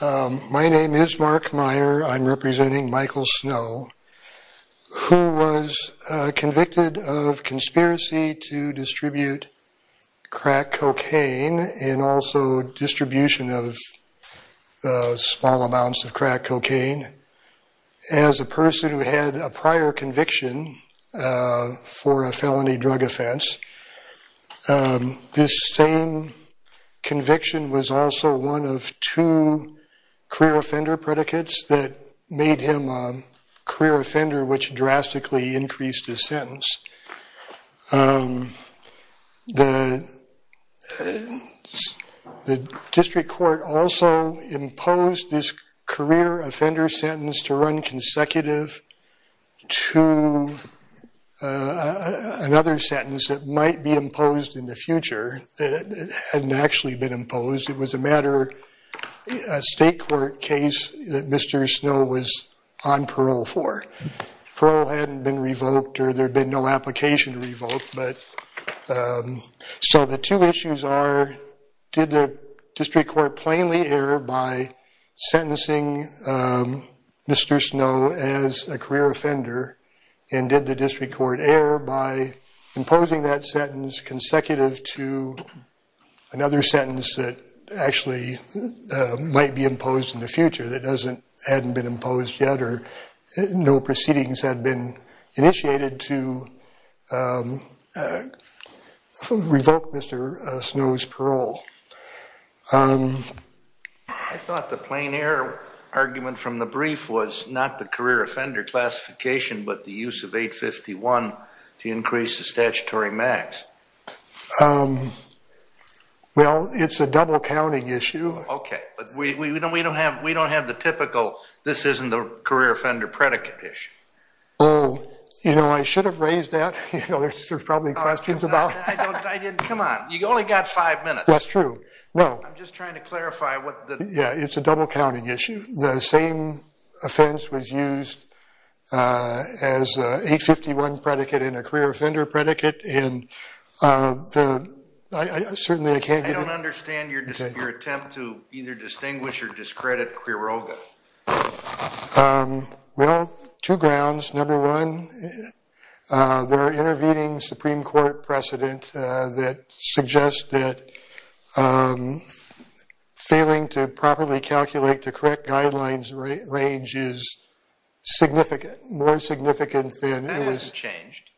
My name is Mark Meyer. I'm representing Michael Snow, who was convicted of conspiracy to distribute crack cocaine and also distribution of small amounts of crack cocaine. As a person who had a prior conviction for a felony drug offense, this same conviction was also one of two career offender predicates that made him a career offender, which drastically increased his sentence. The district court also imposed this career offender sentence to run consecutive to another sentence that might be imposed in the future. It hadn't actually been imposed. It was a matter of a state court case that Mr. Snow was on parole for. Parole hadn't been revoked or there had been no application revoked. So the two issues are, did the district court plainly err by sentencing Mr. Snow as a career offender and did the district court err by imposing that sentence consecutive to another sentence that actually might be imposed in the future that hadn't been imposed yet or no proceedings had been initiated to revoke Mr. Snow's parole? I thought the plain error argument from the brief was not the career offender classification but the use of 851 to increase the statutory max. Well, it's a double counting issue. Okay, but we don't have the typical, this isn't the career offender predicate issue. Oh, you know, I should have raised that. There's probably questions about it. Come on, you've only got five minutes. That's true. I'm just trying to clarify. Yeah, it's a double counting issue. The same offense was used as 851 predicate in a career offender predicate. I don't understand your attempt to either distinguish or discredit career offender. Well, two grounds. Number one, there are intervening Supreme Court precedent that suggests that failing to properly calculate the correct guidelines range is more significant than it was. That hasn't changed.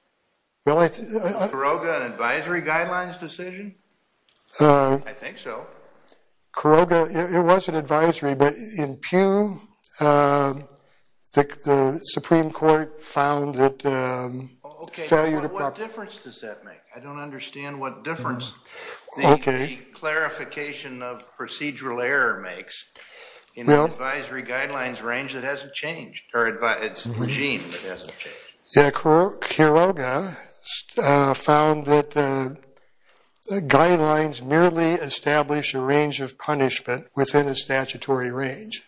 Really? Kuroga, an advisory guidelines decision? I think so. Kuroga, it was an advisory, but in Pew, the Supreme Court found that failure to properly Okay, but what difference does that make? I don't understand what difference the clarification of procedural error makes in an advisory guidelines range that hasn't changed, or regime that hasn't changed. Yeah, Kuroga found that the guidelines merely establish a range of punishment within a statutory range.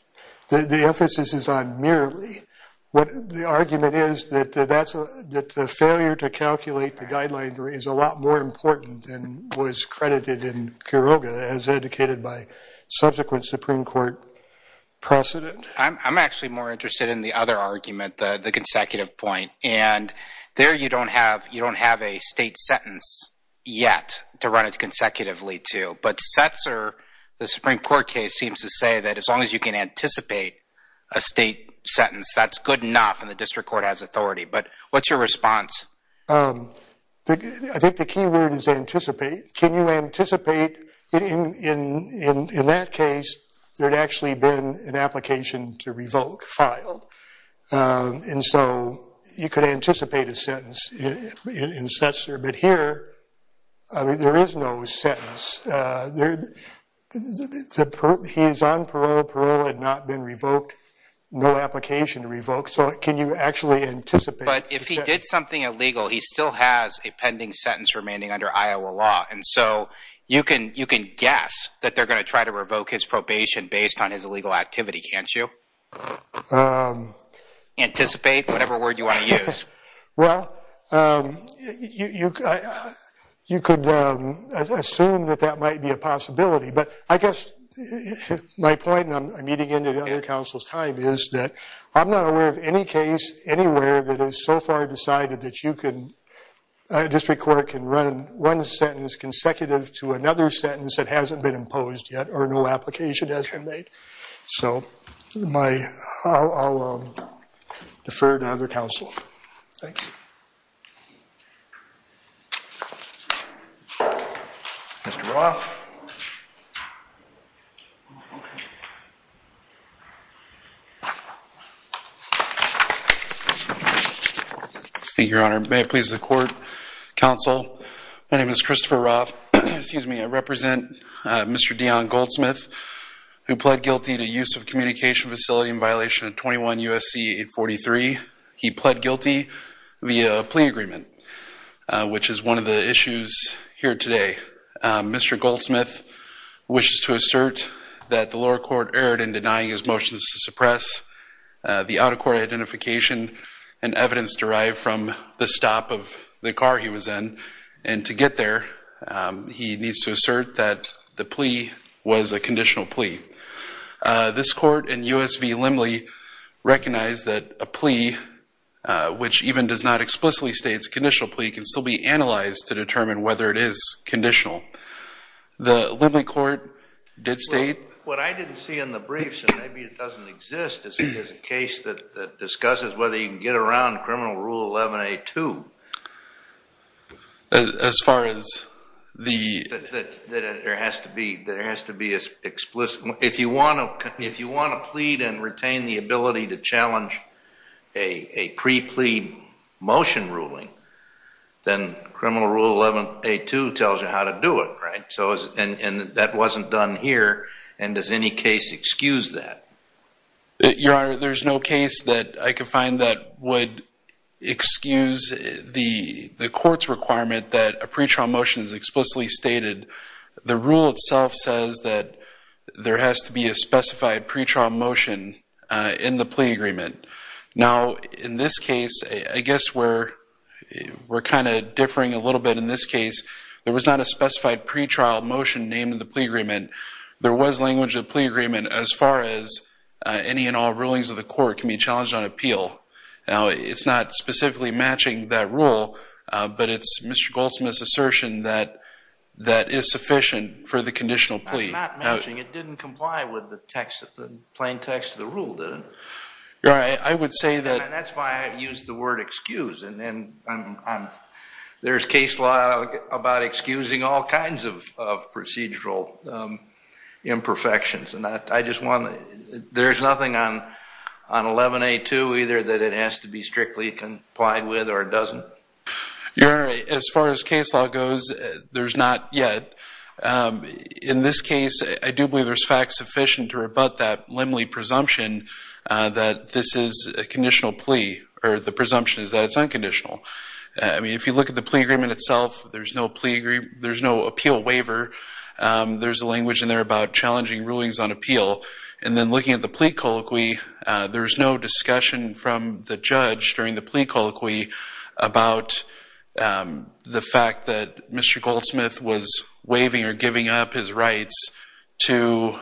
The emphasis is on merely. The argument is that the failure to calculate the guideline is a lot more important than was credited in Kuroga, as indicated by subsequent Supreme Court precedent. I'm actually more interested in the other argument, the consecutive point. And there you don't have a state sentence yet to run it consecutively to. But Setzer, the Supreme Court case, seems to say that as long as you can anticipate a state sentence, that's good enough and the district court has authority. But what's your response? I think the key word is anticipate. Can you anticipate? In that case, there had actually been an application to revoke filed. And so you could anticipate a sentence in Setzer. But here, there is no sentence. He is on parole. Parole had not been revoked. No application revoked. So can you actually anticipate? But if he did something illegal, he still has a pending sentence remaining under Iowa law. And so you can guess that they're going to try to revoke his probation based on his illegal activity, can't you? Anticipate, whatever word you want to use. Well, you could assume that that might be a possibility. But I guess my point, and I'm eating into the other counsel's time, is that I'm not aware of any case anywhere that has so far decided that a district court can run one sentence consecutive to another sentence that hasn't been imposed yet or no application has been made. So I'll defer to the other counsel. Thanks. Mr. Roth. Thank you, Your Honor. May it please the court. Counsel, my name is Christopher Roth. Excuse me, I represent Mr. Deon Goldsmith, who pled guilty to use of communication facility in violation of 21 U.S.C. 843. He pled guilty via a plea agreement, which is one of the issues here today. Mr. Goldsmith wishes to assert that the lower court erred in denying his motions to suppress the out-of-court identification and evidence derived from the stop of the car he was in. And to get there, he needs to assert that the plea was a conditional plea. This court and U.S.V. Limley recognize that a plea, which even does not explicitly state it's a conditional plea, can still be analyzed to determine whether it is conditional. The Limley court did state- Well, what I didn't see in the briefs, and maybe it doesn't exist, is that there's a case that discusses whether you can get around criminal rule 11A2. As far as the- That there has to be an explicit- Then criminal rule 11A2 tells you how to do it, right? And that wasn't done here, and does any case excuse that? Your Honor, there's no case that I could find that would excuse the court's requirement that a pretrial motion is explicitly stated. The rule itself says that there has to be a specified pretrial motion in the plea agreement. Now, in this case, I guess we're kind of differing a little bit in this case. There was not a specified pretrial motion named in the plea agreement. There was language in the plea agreement as far as any and all rulings of the court can be challenged on appeal. Now, it's not specifically matching that rule, but it's Mr. Goldsmith's assertion that that is sufficient for the conditional plea. It's not matching. It didn't comply with the plain text of the rule, did it? Your Honor, I would say that- And that's why I used the word excuse. There's case law about excusing all kinds of procedural imperfections. There's nothing on 11A2 either that it has to be strictly complied with or doesn't. Your Honor, as far as case law goes, there's not yet. In this case, I do believe there's fact sufficient to rebut that limly presumption that this is a conditional plea, or the presumption is that it's unconditional. I mean, if you look at the plea agreement itself, there's no appeal waiver. There's a language in there about challenging rulings on appeal. And then looking at the plea colloquy, there's no discussion from the judge during the plea colloquy about the fact that Mr. Goldsmith was waiving or giving up his rights to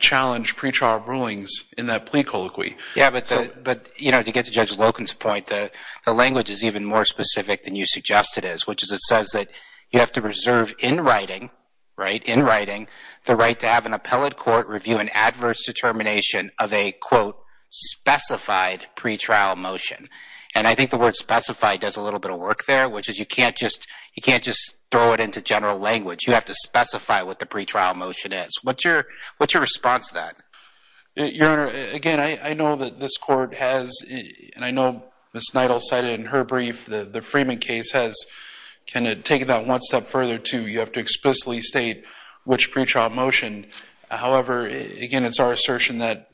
challenge pretrial rulings in that plea colloquy. Yeah, but to get to Judge Loken's point, the language is even more specific than you suggest it is, which is it says that you have to reserve in writing, right, in writing, the right to have an appellate court review an adverse determination of a, quote, specified pretrial motion. And I think the word specified does a little bit of work there, which is you can't just throw it into general language. You have to specify what the pretrial motion is. What's your response to that? Your Honor, again, I know that this court has, and I know Ms. Neidel cited in her brief, the Freeman case has kind of taken that one step further to you have to explicitly state which pretrial motion. However, again, it's our assertion that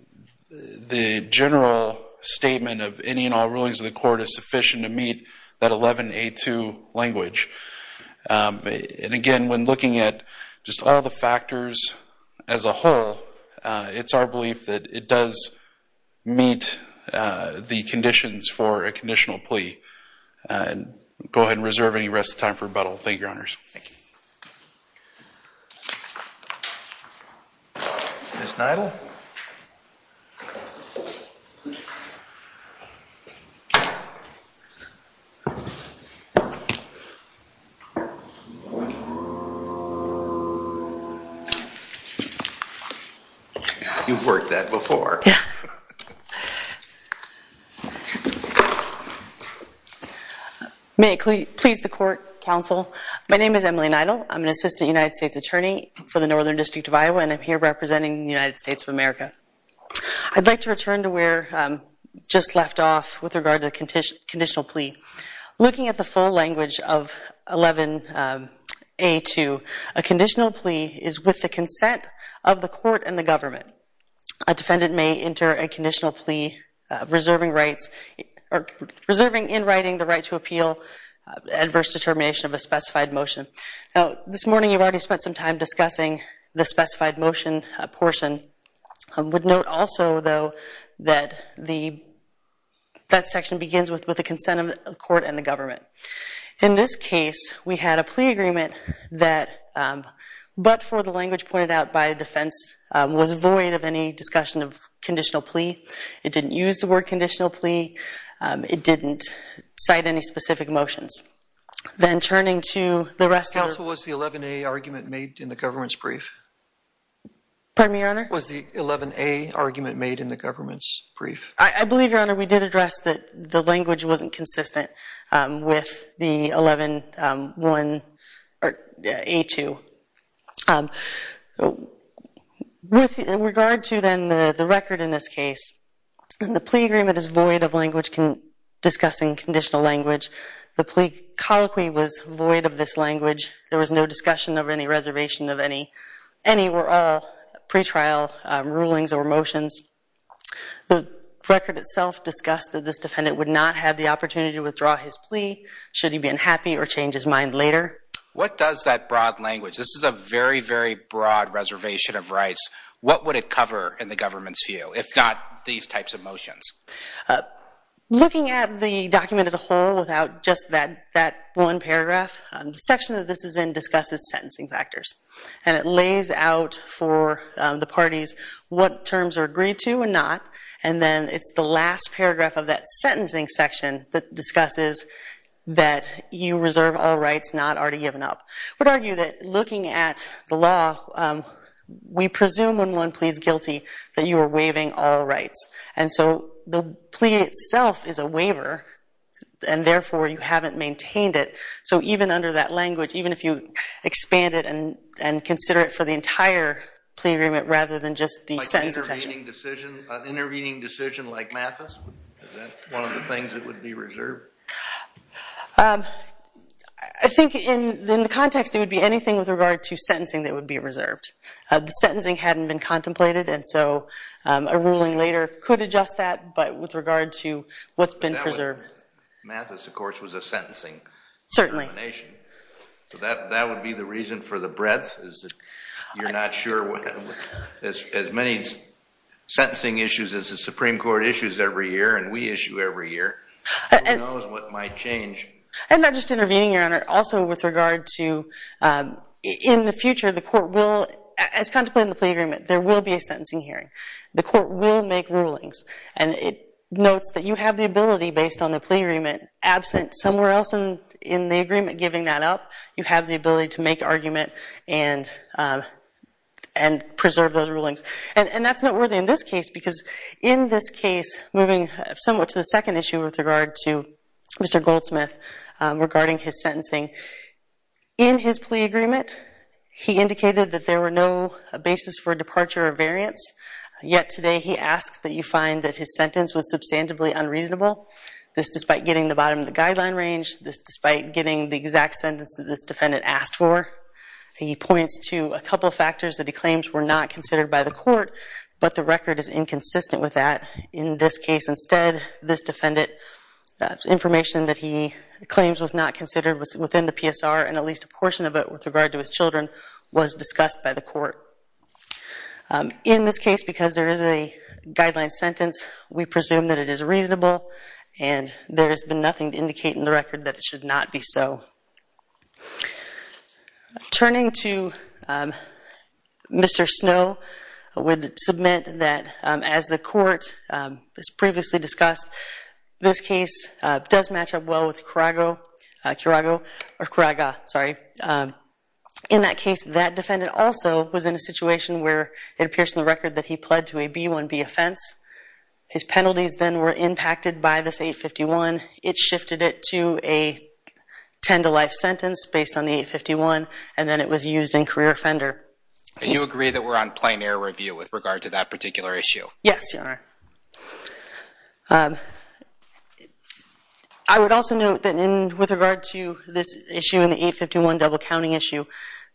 the general statement of any and all rulings of the court is sufficient to meet that 11A2 language. And, again, when looking at just all the factors as a whole, it's our belief that it does meet the conditions for a conditional plea. Go ahead and reserve any rest of the time for rebuttal. Thank you, Your Honors. Thank you. Ms. Neidel? You've worked that before. Yeah. May it please the court, counsel. My name is Emily Neidel. I'm an assistant United States attorney for the Northern District of Iowa, and I'm here representing the United States of America. I'd like to return to where I just left off with regard to the conditional plea. Looking at the full language of 11A2, a conditional plea is with the consent of the court and the government. A defendant may enter a conditional plea reserving in writing the right to appeal adverse determination of a specified motion. Now, this morning you've already spent some time discussing the specified motion portion. I would note also, though, that that section begins with the consent of the court and the government. In this case, we had a plea agreement that, but for the language pointed out by defense, was void of any discussion of conditional plea. It didn't use the word conditional plea. It didn't cite any specific motions. Then turning to the rest of the- Counsel, was the 11A argument made in the government's brief? Pardon me, Your Honor? Was the 11A argument made in the government's brief? I believe, Your Honor, we did address that the language wasn't consistent with the 11A2. With regard to then the record in this case, the plea agreement is void of language discussing conditional language. The plea colloquy was void of this language. There was no discussion of any reservation of any pre-trial rulings or motions. The record itself discussed that this defendant would not have the opportunity to withdraw his plea should he be unhappy or change his mind later. What does that broad language-this is a very, very broad reservation of rights- what would it cover in the government's view, if not these types of motions? Looking at the document as a whole without just that one paragraph, the section that this is in discusses sentencing factors. And it lays out for the parties what terms are agreed to and not, and then it's the last paragraph of that sentencing section that discusses that you reserve all rights not already given up. I would argue that looking at the law, we presume when one pleads guilty that you are waiving all rights. And so the plea itself is a waiver, and therefore you haven't maintained it. So even under that language, even if you expand it and consider it for the entire plea agreement rather than just the sentencing section. Like an intervening decision like Mathis? Is that one of the things that would be reserved? I think in the context, it would be anything with regard to sentencing that would be reserved. The sentencing hadn't been contemplated, and so a ruling later could adjust that, but with regard to what's been preserved. Mathis, of course, was a sentencing determination. Certainly. So that would be the reason for the breadth is that you're not sure what, as many sentencing issues as the Supreme Court issues every year and we issue every year, who knows what might change. And not just intervening, Your Honor, also with regard to in the future the court will, as contemplated in the plea agreement, there will be a sentencing hearing. The court will make rulings, and it notes that you have the ability, based on the plea agreement, absent somewhere else in the agreement giving that up, you have the ability to make argument and preserve those rulings. And that's noteworthy in this case because in this case, moving somewhat to the second issue with regard to Mr. Goldsmith regarding his sentencing, in his plea agreement he indicated that there were no basis for departure or variance, yet today he asks that you find that his sentence was substantively unreasonable, this despite getting the bottom of the guideline range, this despite getting the exact sentence that this defendant asked for. He points to a couple of factors that he claims were not considered by the court, but the record is inconsistent with that. In this case, instead, this defendant, the information that he claims was not considered was within the PSR, and at least a portion of it with regard to his children was discussed by the court. In this case, because there is a guideline sentence, we presume that it is reasonable, and there has been nothing to indicate in the record that it should not be so. Turning to Mr. Snow, I would submit that as the court has previously discussed, this case does match up well with Kuraga. In that case, that defendant also was in a situation where it appears in the record that he pled to a B-1B offense. His penalties then were impacted by this 851. It shifted it to a 10-to-life sentence based on the 851, and then it was used in career offender. Do you agree that we're on plein air review with regard to that particular issue? Yes, Your Honor. I would also note that with regard to this issue and the 851 double-counting issue,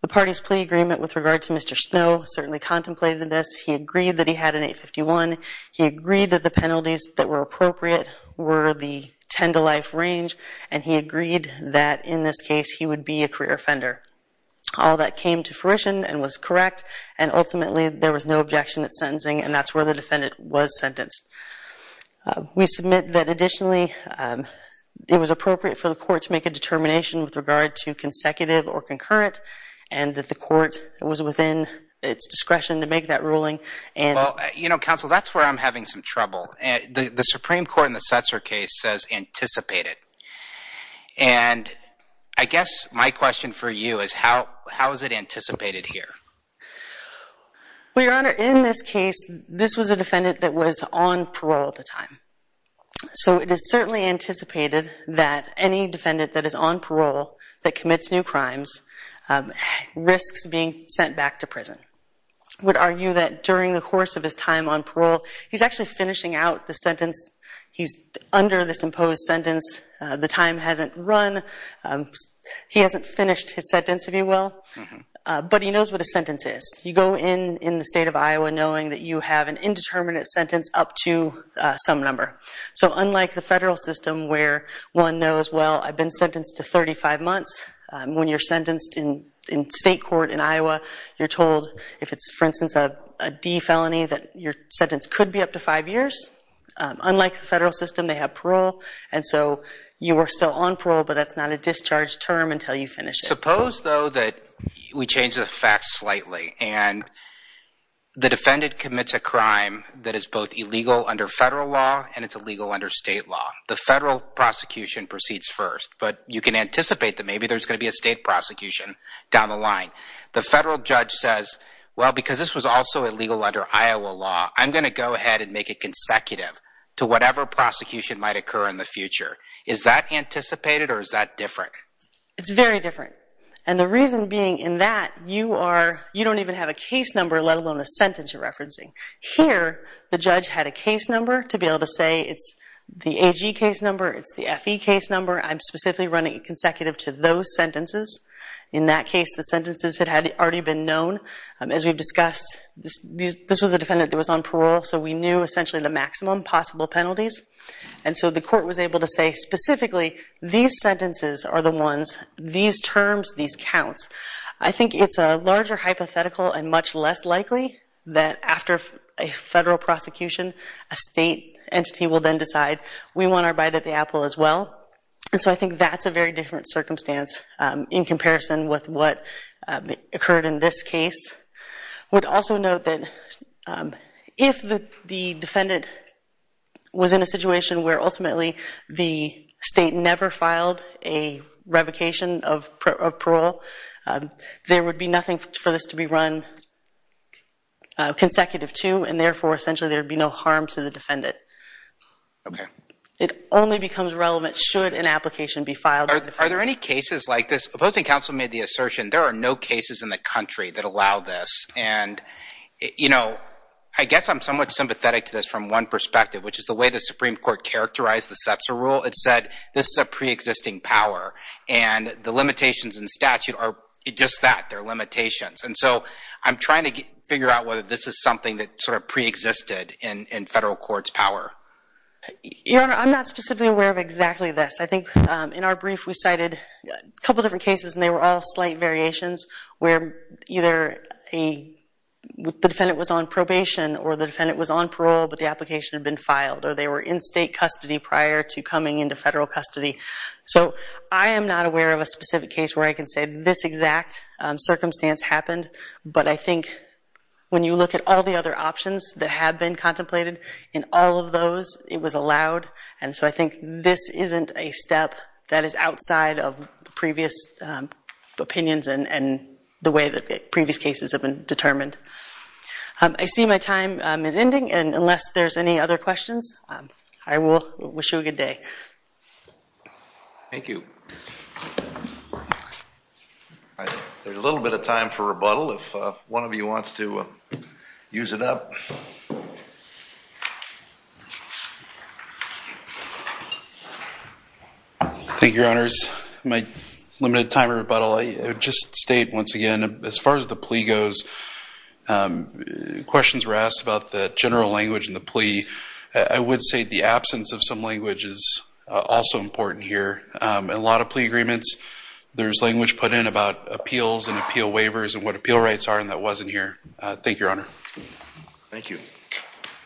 the parties plea agreement with regard to Mr. Snow certainly contemplated this. He agreed that he had an 851. He agreed that the penalties that were appropriate were the 10-to-life range, and he agreed that in this case he would be a career offender. All that came to fruition and was correct, and ultimately there was no objection at sentencing, and that's where the defendant was sentenced. We submit that additionally it was appropriate for the court to make a determination with regard to consecutive or concurrent, and that the court was within its discretion to make that ruling. Well, you know, Counsel, that's where I'm having some trouble. The Supreme Court in the Setzer case says anticipated, and I guess my question for you is how is it anticipated here? Well, Your Honor, in this case this was a defendant that was on parole at the time, so it is certainly anticipated that any defendant that is on parole that commits new crimes risks being sent back to prison. I would argue that during the course of his time on parole, he's actually finishing out the sentence. He's under this imposed sentence. The time hasn't run. He hasn't finished his sentence, if you will, but he knows what a sentence is. You go in in the state of Iowa knowing that you have an indeterminate sentence up to some number. So unlike the federal system where one knows, well, I've been sentenced to 35 months, when you're sentenced in state court in Iowa, you're told if it's, for instance, a D felony, that your sentence could be up to five years. Unlike the federal system, they have parole, and so you are still on parole, but that's not a discharge term until you finish it. Suppose, though, that we change the facts slightly, and the defendant commits a crime that is both illegal under federal law and it's illegal under state law. The federal prosecution proceeds first, but you can anticipate that maybe there's going to be a state prosecution down the line. The federal judge says, well, because this was also illegal under Iowa law, I'm going to go ahead and make it consecutive to whatever prosecution might occur in the future. Is that anticipated or is that different? It's very different, and the reason being in that you don't even have a case number, let alone a sentence you're referencing. Here, the judge had a case number to be able to say it's the AG case number, it's the FE case number, I'm specifically running it consecutive to those sentences. In that case, the sentences had already been known. As we've discussed, this was a defendant that was on parole, so we knew essentially the maximum possible penalties, and so the court was able to say specifically these sentences are the ones, these terms, these counts. I think it's a larger hypothetical and much less likely that after a federal prosecution, a state entity will then decide we want our bite at the apple as well, and so I think that's a very different circumstance in comparison with what occurred in this case. I would also note that if the defendant was in a situation where ultimately the state never filed a revocation of parole, there would be nothing for this to be run consecutive to, and therefore essentially there would be no harm to the defendant. It only becomes relevant should an application be filed. Are there any cases like this? Opposing counsel made the assertion there are no cases in the country that allow this, and I guess I'm somewhat sympathetic to this from one perspective, which is the way the Supreme Court characterized the Setzer Rule. It said this is a preexisting power, and the limitations in statute are just that, they're limitations, and so I'm trying to figure out whether this is something that sort of preexisted in federal court's power. Your Honor, I'm not specifically aware of exactly this. I think in our brief we cited a couple of different cases, and they were all slight variations where either the defendant was on probation or the defendant was on parole but the application had been filed, or they were in state custody prior to coming into federal custody. So I am not aware of a specific case where I can say this exact circumstance happened, but I think when you look at all the other options that have been contemplated, in all of those it was allowed, and so I think this isn't a step that is outside of previous opinions and the way that previous cases have been determined. I see my time is ending, and unless there's any other questions, I will wish you a good day. Thank you. There's a little bit of time for rebuttal if one of you wants to use it up. Thank you, Your Honors. My limited time for rebuttal, I would just state once again, as far as the plea goes, questions were asked about the general language in the plea. I would say the absence of some language is also important here. In a lot of plea agreements, there's language put in about appeals and appeal waivers and what appeal rights are, and that wasn't here. Thank you, Your Honor. Thank you.